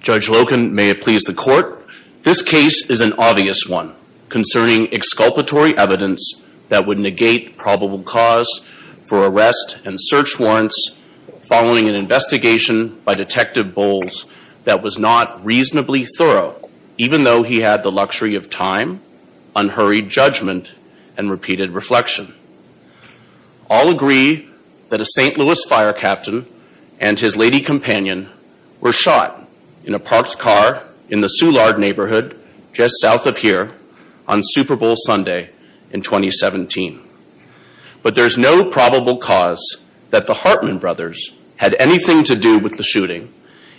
Judge Loken, may it please the court. This case is an obvious one concerning exculpatory evidence that would negate probable cause for arrest and search warrants following an investigation by Detective Bowles that was not reasonably thorough even though he had the luxury of time, unhurried judgment, and repeated reflection. All agree that a St. Louis fire captain and his lady companion were shot in a parked car in the Soulard neighborhood just south of here on Super Bowl Sunday in 2017. But there's no probable cause that the Hartman brothers had anything to do with the shooting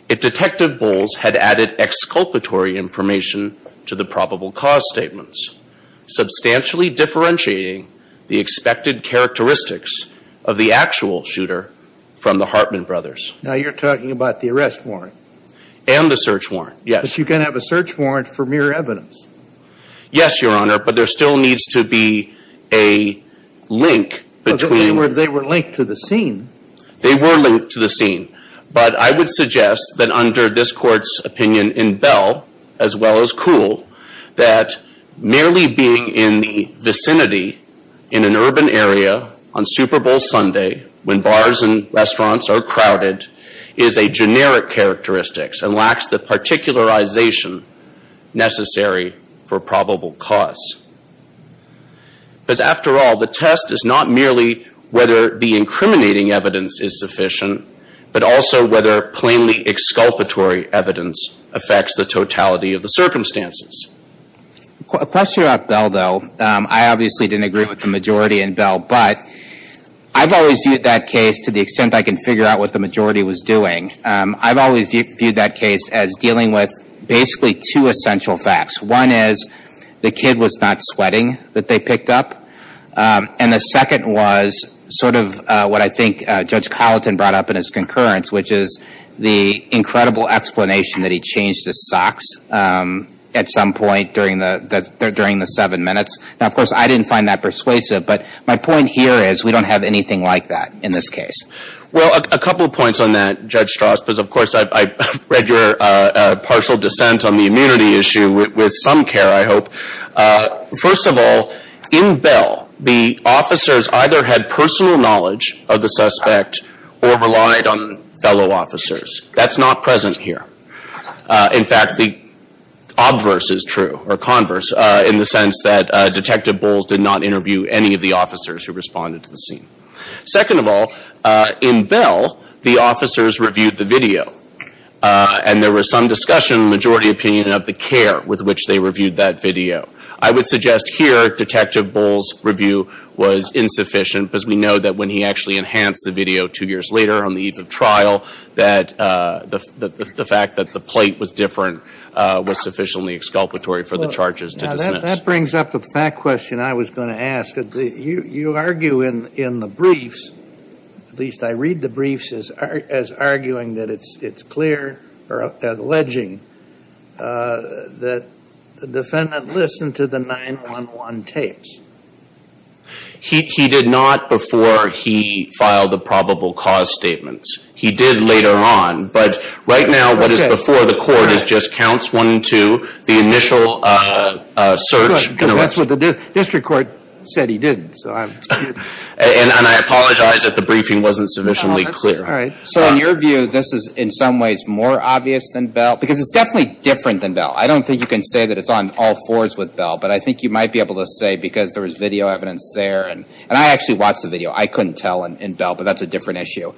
if Detective Bowles had the expected characteristics of the actual shooter from the Hartman brothers. Now you're talking about the arrest warrant. And the search warrant, yes. But you can have a search warrant for mere evidence. Yes, Your Honor, but there still needs to be a link between... They were linked to the scene. They were linked to the scene, but I would suggest that under this court's opinion in Bell as well as in other jurisdictions, the lack of vicinity in an urban area on Super Bowl Sunday when bars and restaurants are crowded is a generic characteristics and lacks the particularization necessary for probable cause. Because after all, the test is not merely whether the incriminating evidence is sufficient, but also whether plainly exculpatory evidence affects the totality of the case. I obviously didn't agree with the majority in Bell, but I've always viewed that case to the extent I can figure out what the majority was doing. I've always viewed that case as dealing with basically two essential facts. One is the kid was not sweating that they picked up. And the second was sort of what I think Judge Colleton brought up in his concurrence, which is the incredible explanation that he changed his socks at some point during the seven minutes. Now, of course, I didn't find that persuasive, but my point here is we don't have anything like that in this case. Well, a couple of points on that, Judge Strauss, because of course I've read your partial dissent on the immunity issue with some care, I hope. First of all, in Bell, the officers either had personal knowledge of the suspect or relied on fellow officers. That's not present here. In fact, the obverse is true, or converse, in the sense that Detective Bowles did not interview any of the officers who responded to the scene. Second of all, in Bell, the officers reviewed the video, and there was some discussion, majority opinion, of the care with which they reviewed that video. I would suggest here Detective Bowles' review was insufficient, because we know that when he actually the plate was different was sufficiently exculpatory for the charges to dismiss. Now, that brings up a fact question I was going to ask. You argue in the briefs, at least I read the briefs, as arguing that it's clear, or alleging, that the defendant listened to the 911 tapes. He did not before he filed the probable cause statements. He did later on, but right now what is before the court is just counts one to the initial search and arrest. Good, because that's what the district court said he didn't. And I apologize if the briefing wasn't sufficiently clear. All right. So in your view, this is in some ways more obvious than Bell, because it's definitely different than Bell. I don't think you can say that it's on all fours with Bell, but I think you might be able to say, because there was video evidence there, and I actually watched the video. I couldn't tell in Bell, but that's a different issue.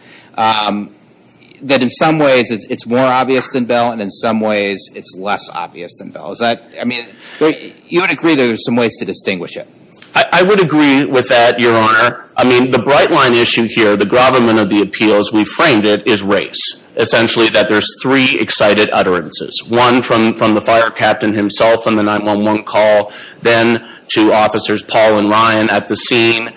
That in some ways it's more obvious than Bell, and in some ways it's less obvious than Bell. I mean, you would agree there's some ways to distinguish it. I would agree with that, Your Honor. I mean, the bright line issue here, the gravamen of the appeals, we framed it, is race. Essentially that there's three excited utterances. One from the fire captain himself on the 911 call, then to officers Paul and Ryan at the scene.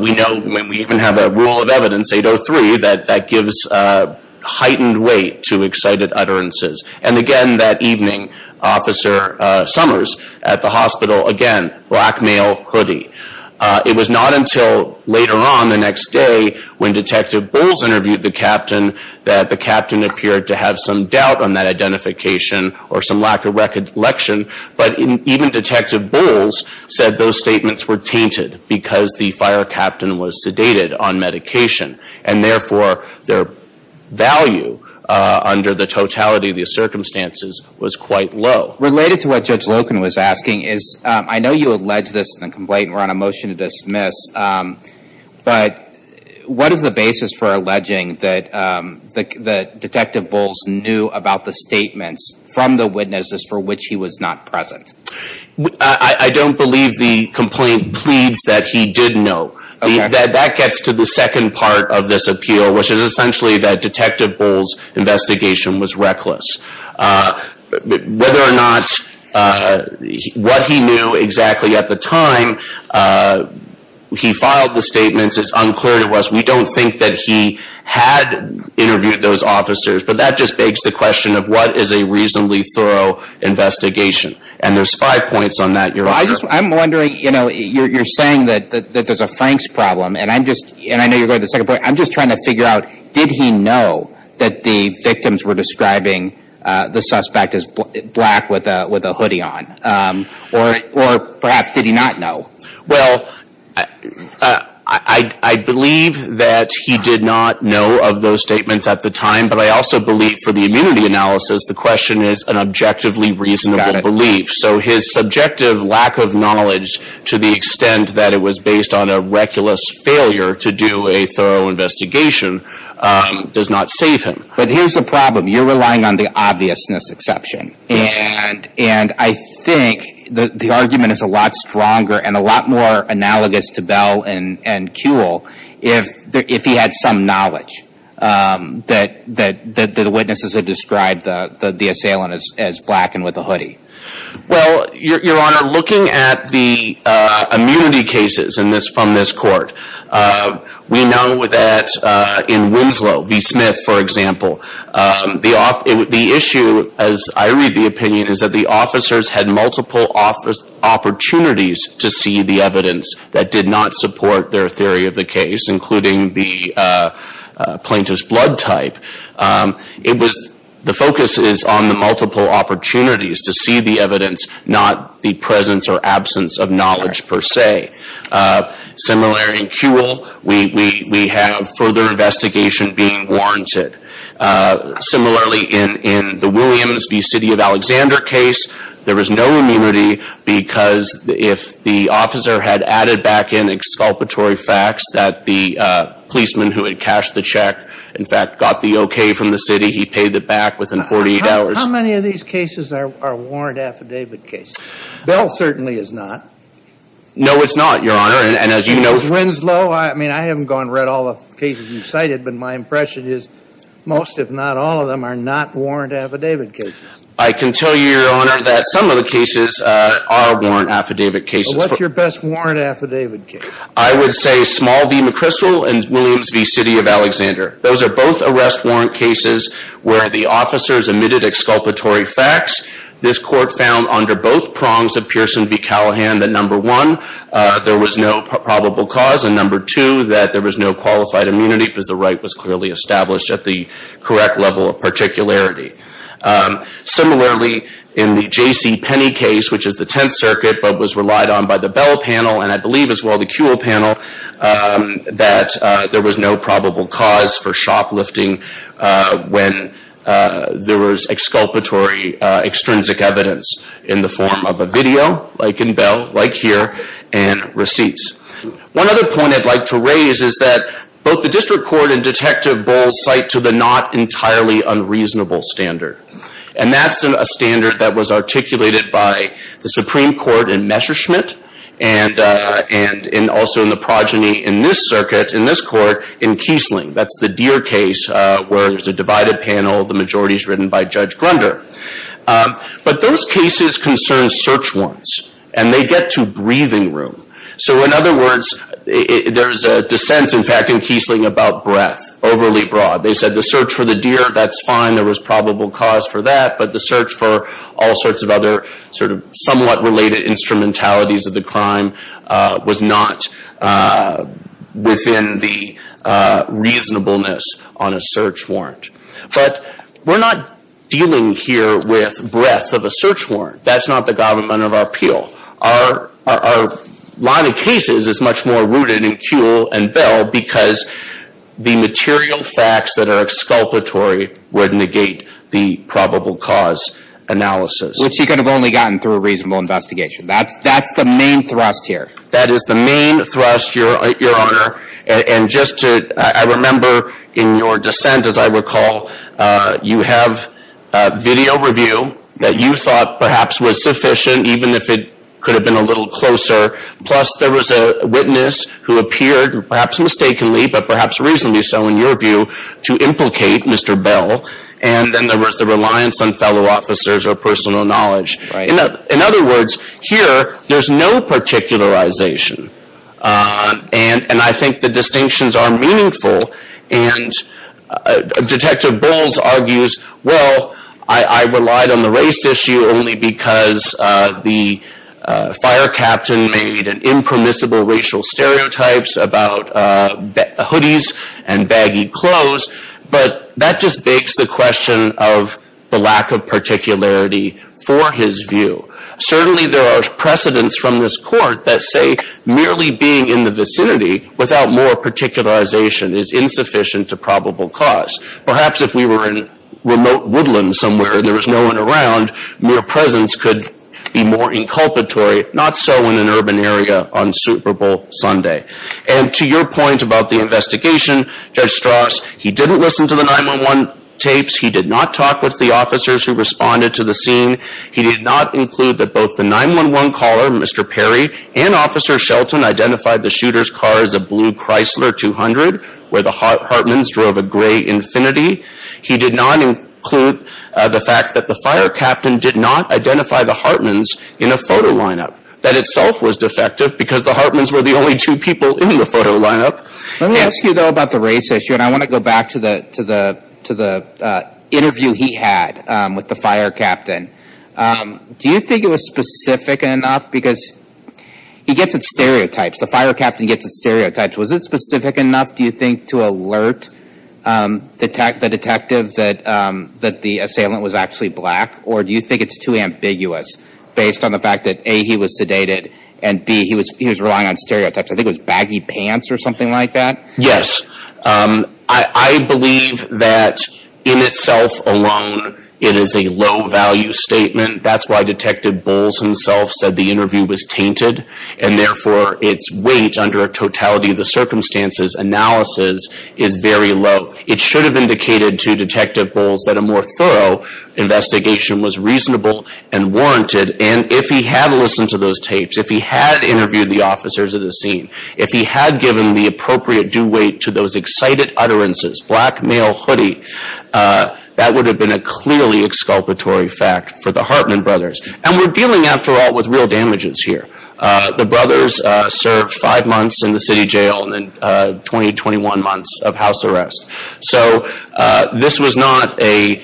We know when we even have a call of evidence, 803, that that gives a heightened weight to excited utterances. And again, that evening, Officer Summers at the hospital, again, black male hoodie. It was not until later on the next day when Detective Bowles interviewed the captain that the captain appeared to have some doubt on that identification or some lack of recollection. But even Detective Bowles said those statements were tainted because the fire captain was sedated on medication, and therefore their value under the totality of the circumstances was quite low. Related to what Judge Loken was asking is, I know you allege this in the complaint, we're on a motion to dismiss, but what is the basis for alleging that Detective Bowles knew about the statements from the witnesses for which he was not present? I don't believe the complaint pleads that he did know. That gets to the second part of this appeal, which is essentially that Detective Bowles' investigation was reckless. Whether or not, what he knew exactly at the time he filed the statements is unclear to us. We don't think that he had interviewed those officers, but that just begs the question of what is a reasonably thorough investigation. And there's five points on that. I'm wondering, you know, you're saying that there's a Franks problem, and I'm just, and I know you're going to the second point, I'm just trying to figure out, did he know that the victims were describing the suspect as black with a hoodie on? Or perhaps did he not know? Well, I believe that he did not know of those statements at the time, but I also believe for the immunity analysis, the question is an objectively reasonable belief. So his subjective lack of knowledge, to the extent that it was based on a reckless failure to do a thorough investigation, does not save him. But here's the problem. You're relying on the obviousness exception, and I think the argument is a lot stronger and a lot more reasonable, if he had some knowledge that the witnesses had described the assailant as black and with a hoodie. Well, Your Honor, looking at the immunity cases from this court, we know that in Winslow v. Smith, for example, the issue, as I read the opinion, is that the officers had multiple opportunities to see the evidence that did not support their theory of the case, including the plaintiff's blood type. The focus is on the multiple opportunities to see the evidence, not the presence or absence of knowledge per se. Similarly in Kewel, we have further investigation being warranted. Similarly in the Williams v. City of Alexander case, there was no immunity because if the plaintiff had added back in exculpatory facts that the policeman who had cashed the check, in fact, got the okay from the city, he paid it back within 48 hours. How many of these cases are warranted affidavit cases? Bell certainly is not. No, it's not, Your Honor, and as you know... In the case of Winslow, I mean, I haven't gone and read all the cases and cited, but my impression is most, if not all, of them are not warranted affidavit cases. I can tell you, Your Honor, that some of the cases are warranted affidavit cases. So what's your best warranted affidavit case? I would say small v. McChrystal and Williams v. City of Alexander. Those are both arrest warrant cases where the officers omitted exculpatory facts. This court found under both prongs of Pearson v. Callahan that, number one, there was no probable cause, and number two, that there was no qualified immunity because the right was clearly established at the correct level of particularity. Similarly, in the J.C. Penney case, which is the Tenth Circuit, but was relied on by the Bell panel, and I believe as well the Kuehl panel, that there was no probable cause for shoplifting when there was exculpatory, extrinsic evidence in the form of a video, like in Bell, like here, and receipts. One other point I'd like to raise is that both the District Court and Detective Bowles cite to the not entirely unreasonable standard. And that's a standard that was articulated by the Supreme Court in Messerschmitt, and also in the progeny in this circuit, in this court, in Kiesling. That's the Deer case, where there's a divided panel, the majority is written by Judge Grunder. But those cases concern search warrants, and they get to breathing room. So in other words, there's a dissent, in fact, in Kiesling about breadth, overly broad. They said the search for the deer, that's fine, there was probable cause for that, but the search for all sorts of other sort of somewhat related instrumentalities of the crime was not within the reasonableness on a search warrant. But we're not dealing here with breadth of a search warrant. That's not the government of our appeal. Our line of cases is much more rooted in Kuehl and Bell, because the material facts that are exculpatory would negate the probable cause analysis. Which he could have only gotten through a reasonable investigation. That's the main thrust here. That is the main thrust, Your Honor. And just to, I remember in your dissent, as I recall, you have video review that you thought was sufficient, even if it could have been a little closer. Plus, there was a witness who appeared, perhaps mistakenly, but perhaps reasonably so in your view, to implicate Mr. Bell, and then there was the reliance on fellow officers or personal knowledge. In other words, here, there's no particularization. And I think the distinctions are meaningful, and Detective Bowles argues, well, I relied on the race issue only because the fire captain made an impermissible racial stereotypes about hoodies and baggy clothes. But that just begs the question of the lack of particularity for his view. Certainly, there are precedents from this court that say merely being in the vicinity without more particularization is insufficient to probable cause. Perhaps if we were in remote woodland somewhere and there was no one around, mere presence could be more inculpatory, not so in an urban area on Super Bowl Sunday. And to your point about the investigation, Judge Strauss, he didn't listen to the 9-1-1 tapes. He did not talk with the officers who responded to the scene. He did not include that both the 9-1-1 caller, Mr. Perry, and Officer Shelton identified the shooter's car as a blue Chrysler 200, where the Hartmans drove a gray Infinity. He did not include the fact that the fire captain did not identify the Hartmans in a photo lineup. That itself was defective because the Hartmans were the only two people in the photo lineup. Let me ask you, though, about the race issue, and I want to go back to the interview he had with the fire captain. Do you think it was specific enough? Because he gets at stereotypes. The fire captain gets at stereotypes. Was it specific enough, do you think, to alert the detective that the assailant was actually black? Or do you think it's too ambiguous based on the fact that, A, he was sedated, and B, he was relying on stereotypes? I think it was baggy pants or something like that. Yes. I believe that in itself alone, it is a low-value statement. That's why Detective Bowles himself said the interview was tainted. And therefore, its weight under a totality of the circumstances analysis is very low. It should have indicated to Detective Bowles that a more thorough investigation was reasonable and warranted. And if he had listened to those tapes, if he had interviewed the officers at the scene, if he had given the appropriate due weight to those excited utterances, black male hoodie, that would have been a clearly exculpatory fact for the Hartman brothers. And we're dealing, after all, with real damages here. The brothers served five months in the city jail and then 20, 21 months of house arrest. So this was not a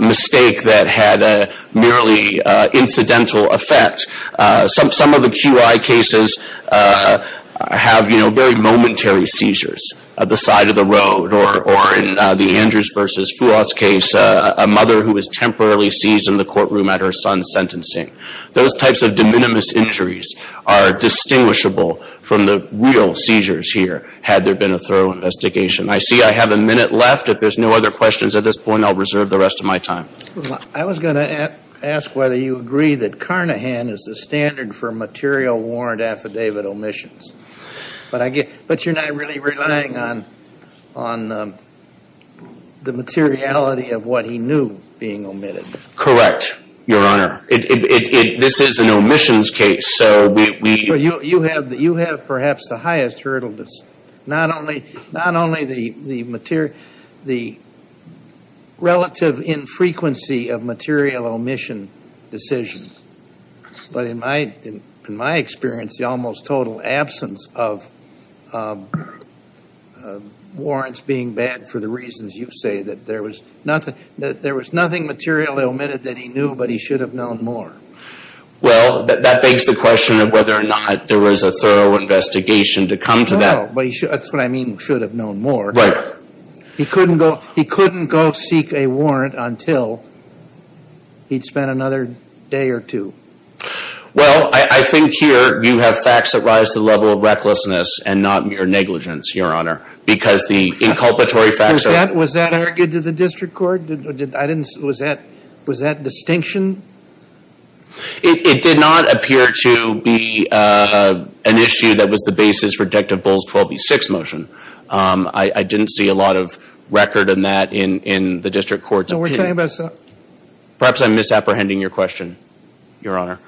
mistake that had a merely incidental effect. Some of the QI cases have very momentary seizures at the side of the road. Or in the Andrews versus Fuos case, a mother who was temporarily seized in the courtroom at her son's sentencing. Those types of de minimis injuries are distinguishable from the real seizures here, had there been a thorough investigation. I see I have a minute left. If there's no other questions at this point, I'll reserve the rest of my time. I was going to ask whether you agree that Carnahan is the standard for material warrant affidavit omissions. But you're not really relying on the materiality of what he knew being omitted. Correct, Your Honor. This is an omissions case. So we- But you have perhaps the highest hurdleness. Not only the relative infrequency of material omission decisions, but in my experience, the almost total absence of warrants being bad for the reasons you say. There was nothing material omitted that he knew, but he should have known more. Well, that begs the question of whether or not there was a thorough investigation to come to that. No, but that's what I mean, should have known more. Right. He couldn't go seek a warrant until he'd spent another day or two. Well, I think here you have facts that rise to the level of recklessness and not mere negligence, Your Honor. Because the inculpatory facts- Was that argued to the district court? Was that distinction? It did not appear to be an issue that was the basis for Detective Bull's 12B6 motion. I didn't see a lot of record in that in the district courts. So we're talking about- Perhaps I'm misapprehending your question, Your Honor.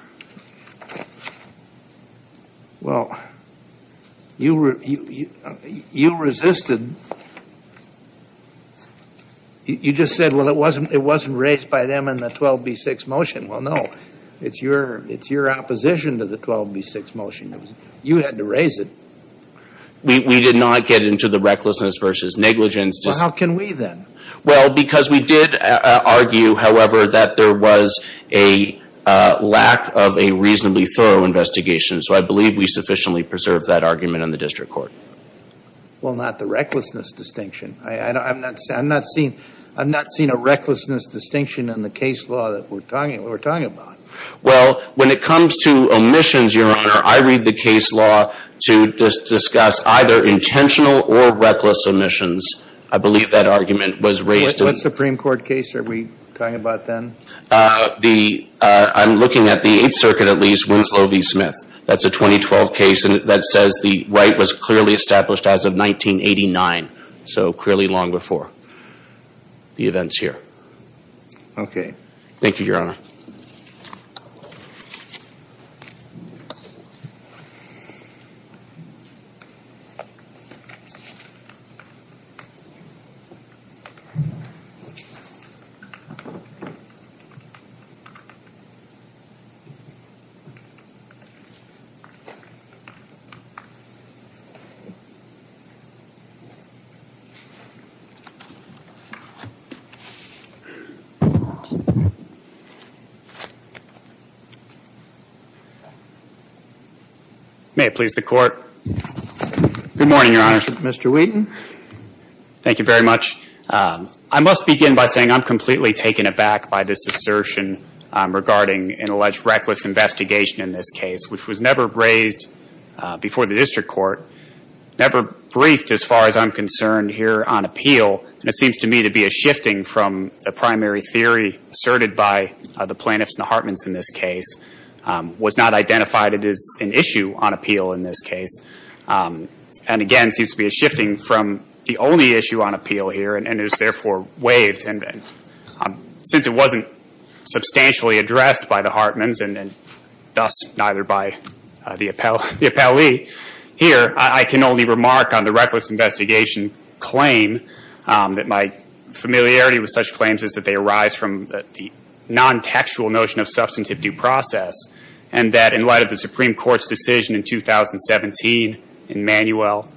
Well, you resisted. You just said, well, it wasn't raised by them in the 12B6 motion. Well, no, it's your opposition to the 12B6 motion. It was you had to raise it. We did not get into the recklessness versus negligence. Well, how can we then? Well, because we did argue, however, that there was a lack of a reasonably thorough investigation. So I believe we sufficiently preserved that argument in the district court. Well, not the recklessness distinction. I'm not seeing a recklessness distinction in the case law that we're talking about. Well, when it comes to omissions, Your Honor, I read the case law to discuss either intentional or reckless omissions. I believe that argument was raised- What Supreme Court case are we talking about then? I'm looking at the Eighth Circuit, at least, Winslow v. Smith. That's a 2012 case that says the right was clearly established as of 1989. So clearly long before the events here. Okay. Thank you, Your Honor. Thank you. May it please the Court. Good morning, Your Honor. Mr. Wheaton. Thank you very much. I must begin by saying I'm completely taken aback by this assertion regarding an alleged reckless investigation in this case, which was never raised before the district court, never briefed as far as I'm concerned here on appeal. And it seems to me to be a shifting from the primary theory asserted by the plaintiffs and the Hartmans in this case was not identified as an issue on appeal in this case. And again, seems to be a shifting from the only issue on appeal here and is therefore waived. And since it wasn't substantially addressed by the Hartmans and thus neither by the appellee here, I can only remark on the reckless investigation claim that my familiarity with such claims is that they arise from the non-textual notion of substantive due process. And that in light of the Supreme Court's decision in 2017 in Manuel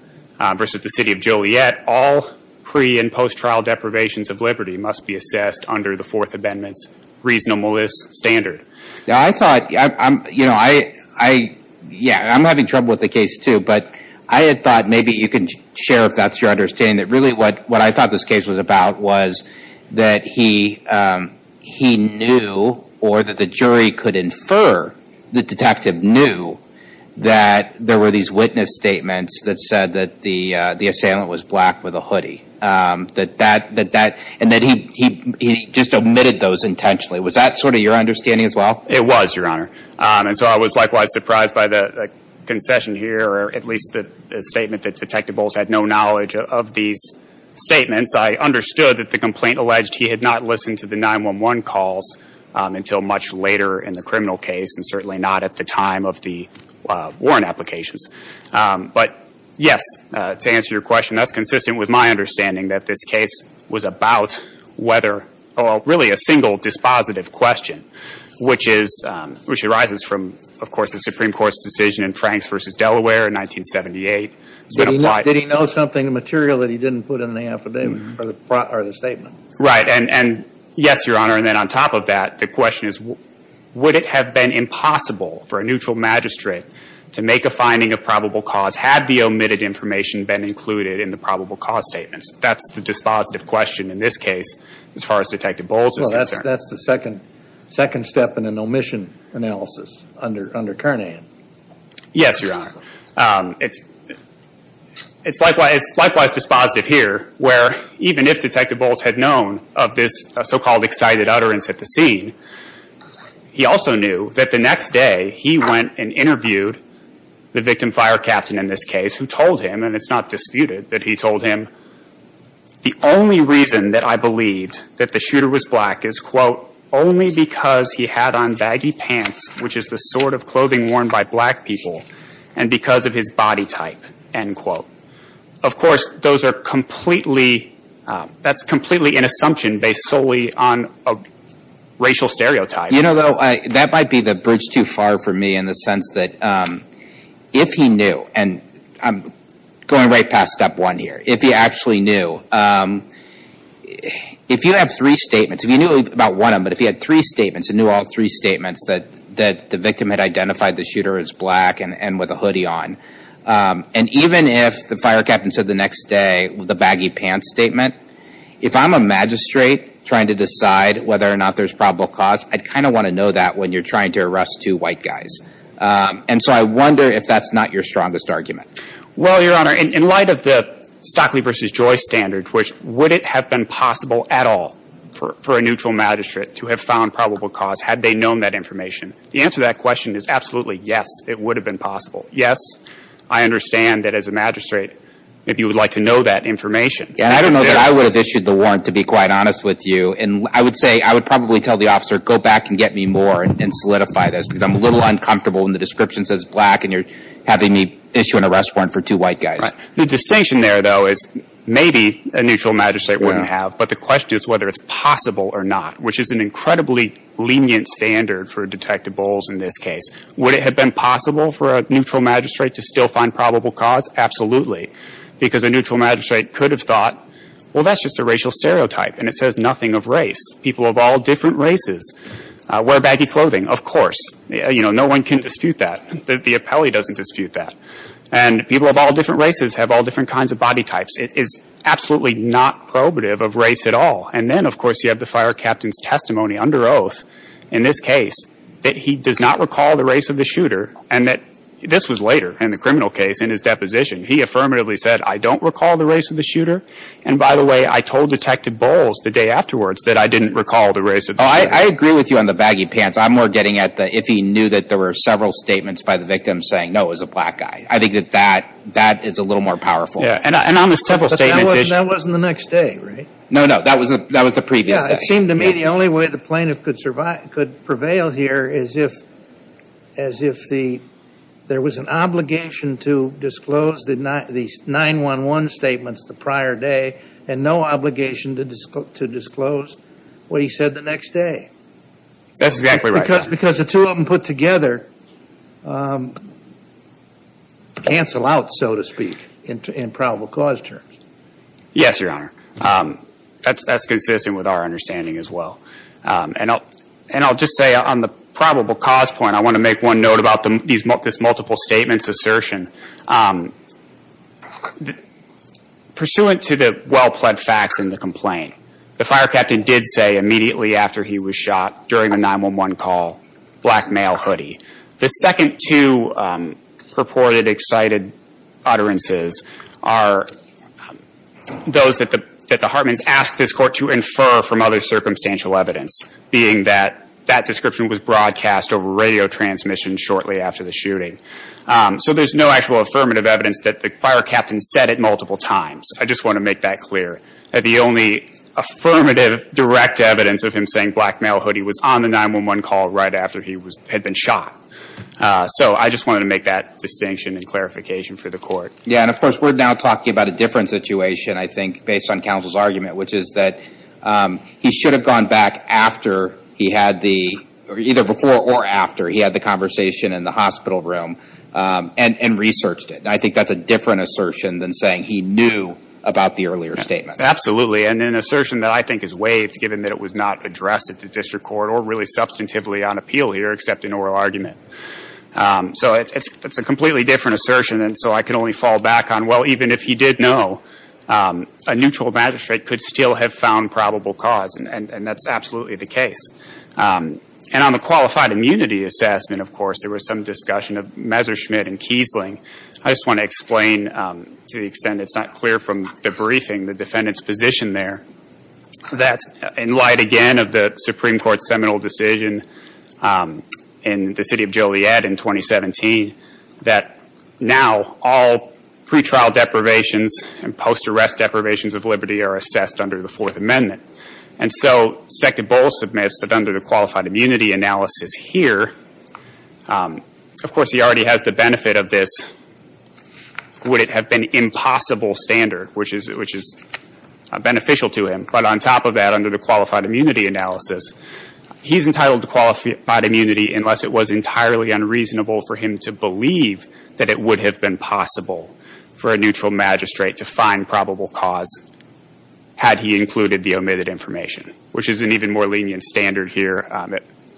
versus the City of Joliet, all pre- and post-trial deprivations of liberty must be assessed under the Fourth Amendment's reasonableness standard. Now, I thought, yeah, I'm having trouble with the case too, but I had thought maybe you can share if that's your understanding that really what I thought this case was about was that he knew or that the jury could infer the detective knew that there were these witness statements that said that the assailant was black with a hoodie. And that he just omitted those intentionally. Was that sort of your understanding as well? It was, Your Honor. And so I was likewise surprised by the concession here, or at least the statement that Detective Bowles had no knowledge of these statements. I understood that the complaint alleged he had not listened to the 911 calls until much later in the criminal case, and certainly not at the time of the warrant applications. But, yes, to answer your question, that's consistent with my understanding that this case was about whether, well, really a single dispositive question, which is, which arises from, of course, the Supreme Court's decision in Franks versus Delaware in 1978. Did he know something material that he didn't put in the affidavit or the statement? Right, and yes, Your Honor. And then on top of that, the question is, would it have been impossible for a neutral magistrate to make a finding of probable cause had the omitted information been included in the probable cause statements? That's the dispositive question in this case as far as Detective Bowles is concerned. That's the second step in an omission analysis under Kernan. Yes, Your Honor. It's likewise dispositive here, where even if Detective Bowles had known of this so-called excited utterance at the scene, he also knew that the next day he went and interviewed the victim fire captain in this case, who told him, and it's not disputed that he told him, the only reason that I believed that the shooter was black is, quote, only because he had on baggy pants, which is the sort of clothing worn by black people, and because of his body type, end quote. Of course, those are completely, that's completely an assumption based solely on a racial stereotype. You know, though, that might be the bridge too far for me in the sense that if he knew, and I'm going right past step one here, if he actually knew, if you have three statements, if you knew about one of them, but if he had three statements and knew all three statements that the victim had identified the shooter as black and with a hoodie on, and even if the fire captain said the next day with a baggy pants statement, if I'm a magistrate trying to decide whether or not there's probable cause, I'd kind of want to know that when you're trying to arrest two white guys. And so I wonder if that's not your strongest argument. Well, Your Honor, in light of the Stockley versus Joyce standards, which would it have been possible at all for a neutral magistrate to have found probable cause had they known that information? The answer to that question is absolutely yes, it would have been possible. Yes, I understand that as a magistrate, if you would like to know that information. Yeah, I don't know that I would have issued the warrant, to be quite honest with you. And I would say, I would probably tell the officer, go back and get me more and solidify this because I'm a little uncomfortable when the description says black and you're having me issue an arrest warrant for two white guys. The distinction there, though, is maybe a neutral magistrate wouldn't have. But the question is whether it's possible or not, which is an incredibly lenient standard for Detective Bowles in this case. Would it have been possible for a neutral magistrate to still find probable cause? Absolutely, because a neutral magistrate could have thought, well, that's just a racial stereotype and it says nothing of race. People of all different races wear baggy clothing, of course. No one can dispute that. The appellee doesn't dispute that. And people of all different races have all different kinds of body types. It is absolutely not probative of race at all. And then, of course, you have the fire captain's testimony under oath in this case that he does not recall the race of the shooter and that this was later in the criminal case in his deposition. He affirmatively said, I don't recall the race of the shooter. And by the way, I told Detective Bowles the day afterwards that I didn't recall the race of the shooter. I agree with you on the baggy pants. I'm more getting at the if he knew that there were several statements by the victim saying, no, it was a black guy. I think that that is a little more powerful. And on the several statements. That wasn't the next day, right? No, no. That was the previous day. It seemed to me the only way the plaintiff could prevail here is if there was an obligation to disclose the 911 statements the prior day and no obligation to disclose what he said the next day. That's exactly right. Because the two of them put together cancel out, so to speak, in probable cause terms. Yes, your honor. That's consistent with our understanding as well. And I'll just say on the probable cause point, I want to make one note about this multiple statements assertion. Pursuant to the well-pled facts in the complaint, the fire captain did say immediately after he was shot during the 911 call, black male hoodie. The second two purported excited utterances are those that the Hartmans asked this court to infer from other circumstantial evidence, being that that description was broadcast over radio transmission shortly after the shooting. So there's no actual affirmative evidence that the fire captain said it multiple times. I just want to make that clear. The only affirmative direct evidence of him saying black male hoodie was on the 911 call right after he had been shot. So I just want to make that distinction and clarification for the court. Yeah. And of course, we're now talking about a different situation, I think, based on counsel's argument, which is that he should have gone back after he had the either before or after he had the conversation in the hospital room and researched it. I think that's a different assertion than saying he knew about the earlier statement. Absolutely. And an assertion that I think is waived, given that it was not addressed at the district court or really substantively on appeal here, except in oral argument. So it's a completely different assertion. And so I can only fall back on, well, even if he did know, a neutral magistrate could still have found probable cause. And that's absolutely the case. And on the qualified immunity assessment, of course, there was some discussion of Messerschmidt and Kiesling. I just want to explain, to the extent it's not clear from the briefing, the defendant's position there, that in light, again, of the Supreme Court's seminal decision in the city of Joliet in 2017, that now all pre-trial deprivations and post-arrest deprivations of liberty are assessed under the Fourth Amendment. And so, Sect. Bowles submits that under the qualified immunity analysis here, of course, he already has the would-it-have-been-impossible standard, which is beneficial to him. But on top of that, under the qualified immunity analysis, he's entitled to qualified immunity unless it was entirely unreasonable for him to believe that it would have been possible for a neutral magistrate to find probable cause had he included the omitted information, which is an even more lenient standard here,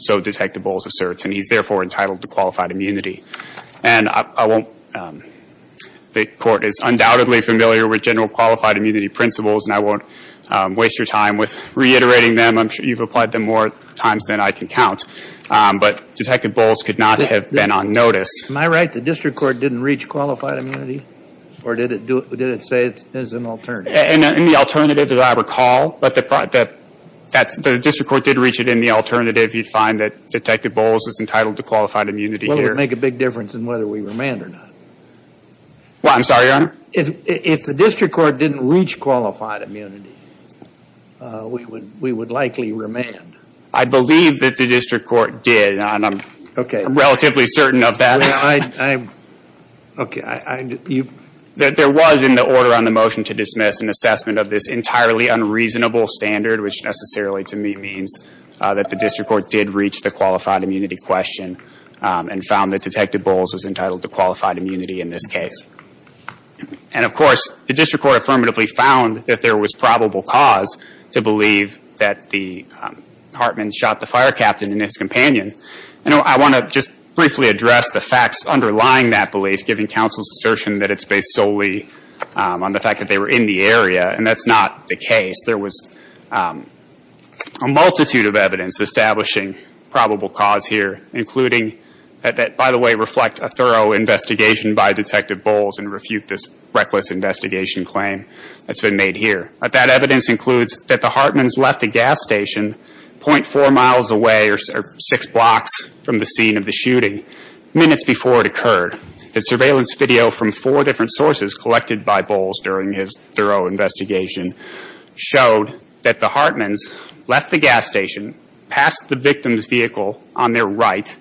so detect the Bowles asserts. And he's therefore entitled to qualified immunity. And I won't, the Court is undoubtedly familiar with general qualified immunity principles, and I won't waste your time with reiterating them. I'm sure you've applied them more times than I can count. But Detective Bowles could not have been on notice. Am I right? The district court didn't reach qualified immunity? Or did it do it, did it say it's an alternative? In the alternative, as I recall, but the district court did reach it in the alternative. You'd find that Detective Bowles is entitled to qualified immunity here. Make a big difference in whether we remand or not. Well, I'm sorry, Your Honor? If the district court didn't reach qualified immunity, we would likely remand. I believe that the district court did, and I'm relatively certain of that. Okay. There was in the order on the motion to dismiss an assessment of this entirely unreasonable standard, which necessarily to me means that the district court did reach the qualified question and found that Detective Bowles was entitled to qualified immunity in this case. And of course, the district court affirmatively found that there was probable cause to believe that the Hartman shot the fire captain and his companion. You know, I want to just briefly address the facts underlying that belief, giving counsel's assertion that it's based solely on the fact that they were in the area, and that's not the case. There was a multitude of evidence establishing probable cause here, including that, by the way, reflect a thorough investigation by Detective Bowles and refute this reckless investigation claim that's been made here. That evidence includes that the Hartmans left a gas station .4 miles away or six blocks from the scene of the shooting minutes before it occurred. The surveillance video from four different sources collected by Bowles during his investigation showed that the Hartmans left the gas station, passed the victim's vehicle on their right,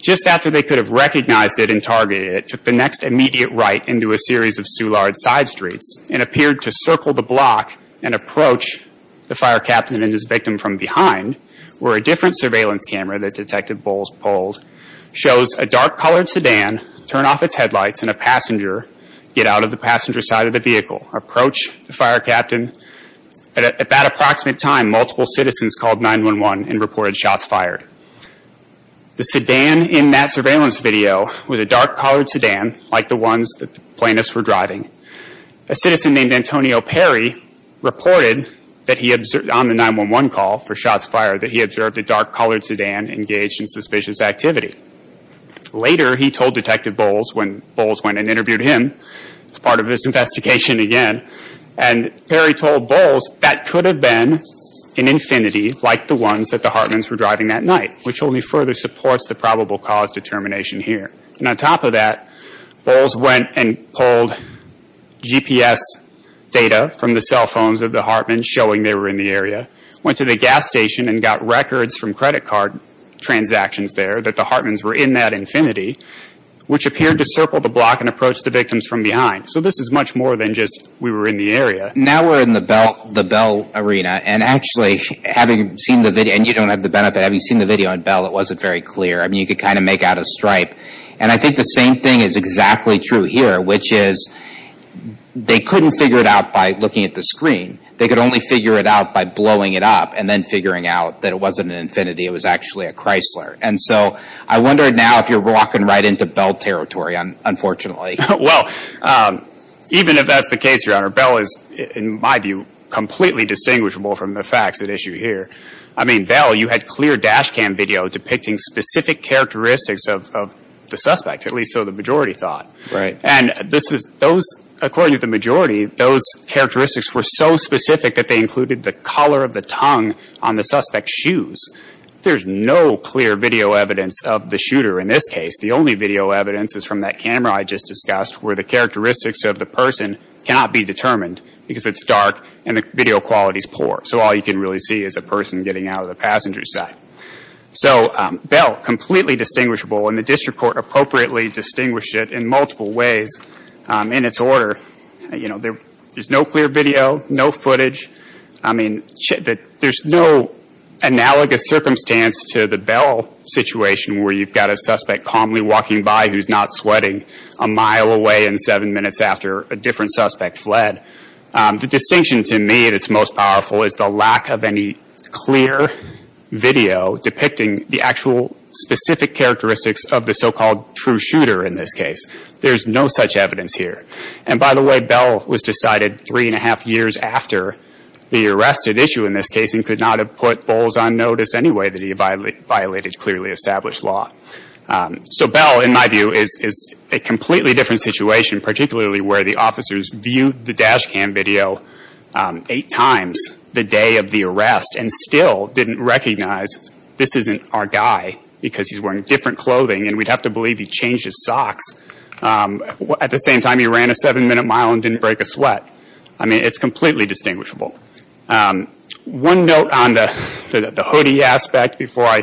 just after they could have recognized it and targeted it, took the next immediate right into a series of Soulard side streets, and appeared to circle the block and approach the fire captain and his victim from behind, where a different surveillance camera that Detective Bowles pulled shows a dark-colored sedan turn off its headlights and a passenger get out of the passenger side of the vehicle, approach the fire captain. At that approximate time, multiple citizens called 9-1-1 and reported shots fired. The sedan in that surveillance video was a dark-colored sedan, like the ones that the plaintiffs were driving. A citizen named Antonio Perry reported on the 9-1-1 call for shots fired that he observed a dark-colored sedan engaged in suspicious activity. Later, he told Detective Bowles, when Bowles went and interviewed him, as part of his investigation again, and Perry told Bowles that could have been an Infiniti like the ones that the Hartmans were driving that night, which only further supports the probable cause determination here. On top of that, Bowles went and pulled GPS data from the cell phones of the Hartmans, showing they were in the area, went to the gas station and got records from credit card transactions there that the Hartmans were in that Infiniti, which appeared to circle the block and approach the victims from behind. So this is much more than just we were in the area. Now we're in the Bell arena, and actually, having seen the video, and you don't have the benefit, having seen the video on Bell, it wasn't very clear. I mean, you could kind of make out a stripe. And I think the same thing is exactly true here, which is they couldn't figure it out by looking at the screen. They could only figure it out by blowing it up and then figuring out that it wasn't an Infiniti. It was actually a Chrysler. And so I wonder now if you're walking right into Bell territory, unfortunately. Well, even if that's the case, Your Honor, Bell is, in my view, completely distinguishable from the facts at issue here. I mean, Bell, you had clear dash cam video depicting specific characteristics of the suspect, at least so the majority thought. Right. And this is those, according to the majority, those characteristics were so specific that they included the color of the tongue on the suspect's shoes. There's no clear video evidence of the shooter in this case. The only video evidence is from that camera I just discussed, where the characteristics of the person cannot be determined because it's dark and the video quality is poor. So all you can really see is a person getting out of the passenger side. So Bell, completely distinguishable, and the District Court appropriately distinguished it in multiple ways in its order. There's no clear video, no footage. I mean, there's no analogous circumstance to the Bell situation, where you've got a suspect calmly walking by who's not sweating a mile away and seven minutes after a different suspect fled. The distinction to me that's most powerful is the lack of any clear video depicting the actual specific characteristics of the so-called true shooter in this case. There's no such evidence here. And by the way, Bell was decided three and a half years after the arrested issue in this case and could not have put Bowles on notice anyway that he violated clearly established law. So Bell, in my view, is a completely different situation, particularly where the officers viewed the dash cam video eight times the day of the arrest and still didn't recognize this isn't our guy because he's wearing different clothing and we'd have to believe he changed his socks. At the same time, he ran a seven-minute mile and didn't break a sweat. I mean, it's completely distinguishable. One note on the hoodie aspect before I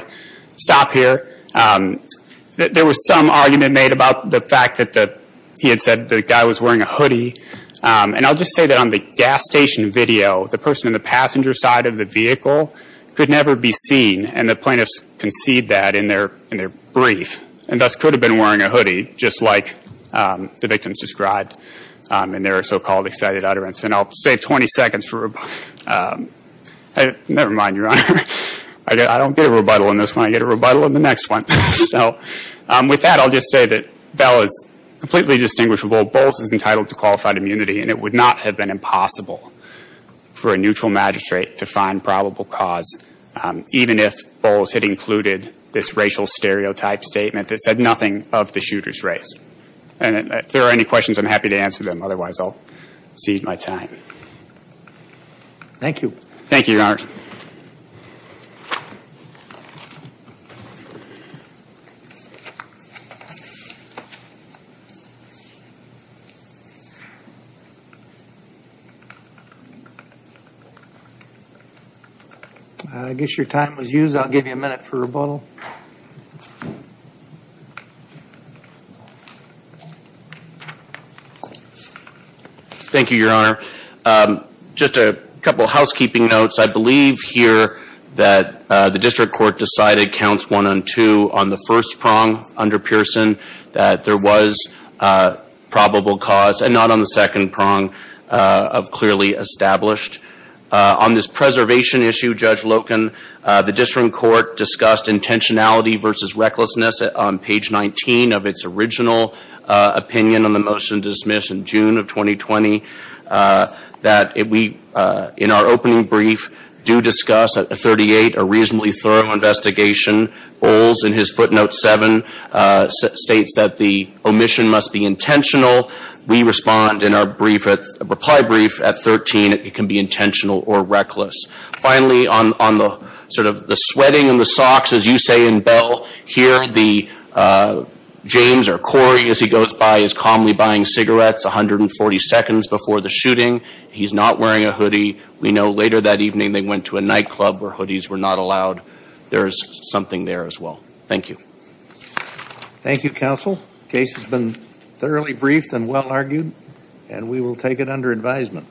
stop here, there was some argument made about the fact that he had said the guy was wearing a hoodie. And I'll just say that on the gas station video, the person in the passenger side of the vehicle could never be seen and the plaintiffs concede that in their brief and thus could have been wearing a hoodie just like the victims described in their so-called excited utterance. And I'll save 20 seconds for... Never mind, Your Honor. I don't get a rebuttal in this one. I get a rebuttal in the next one. So with that, I'll just say that Bell is completely distinguishable. Bowles is entitled to qualified immunity and it would not have been impossible for a neutral magistrate to find probable cause even if Bowles had included this racial stereotype statement that said nothing of the shooter's race. And if there are any questions, I'm happy to answer them. Otherwise, I'll seize my time. Thank you. Thank you, Your Honor. I guess your time was used. I'll give you a minute for rebuttal. Thank you, Your Honor. Just a couple of housekeeping notes. I believe here that the district court decided counts one and two on the first prong under Pearson that there was probable cause and not on the second prong of clearly established. On this preservation issue, Judge Loken, the district court discussed intentionality versus recklessness on page 19 of its original opinion on the motion to dismiss in June of 2020. That we, in our opening brief, do discuss at 38 a reasonably thorough investigation. Bowles, in his footnote 7, states that the omission must be intentional. We respond in our reply brief at 13. It can be intentional or reckless. Finally, on the sort of the sweating in the socks, as you say in Bell here, the James or Corey as he goes by is calmly buying cigarettes 140 seconds before the shooting. He's not wearing a hoodie. We know later that evening they went to a nightclub where hoodies were not allowed. There is something there as well. Thank you. Thank you, counsel. Case has been thoroughly briefed and well argued and we will take it under advisement.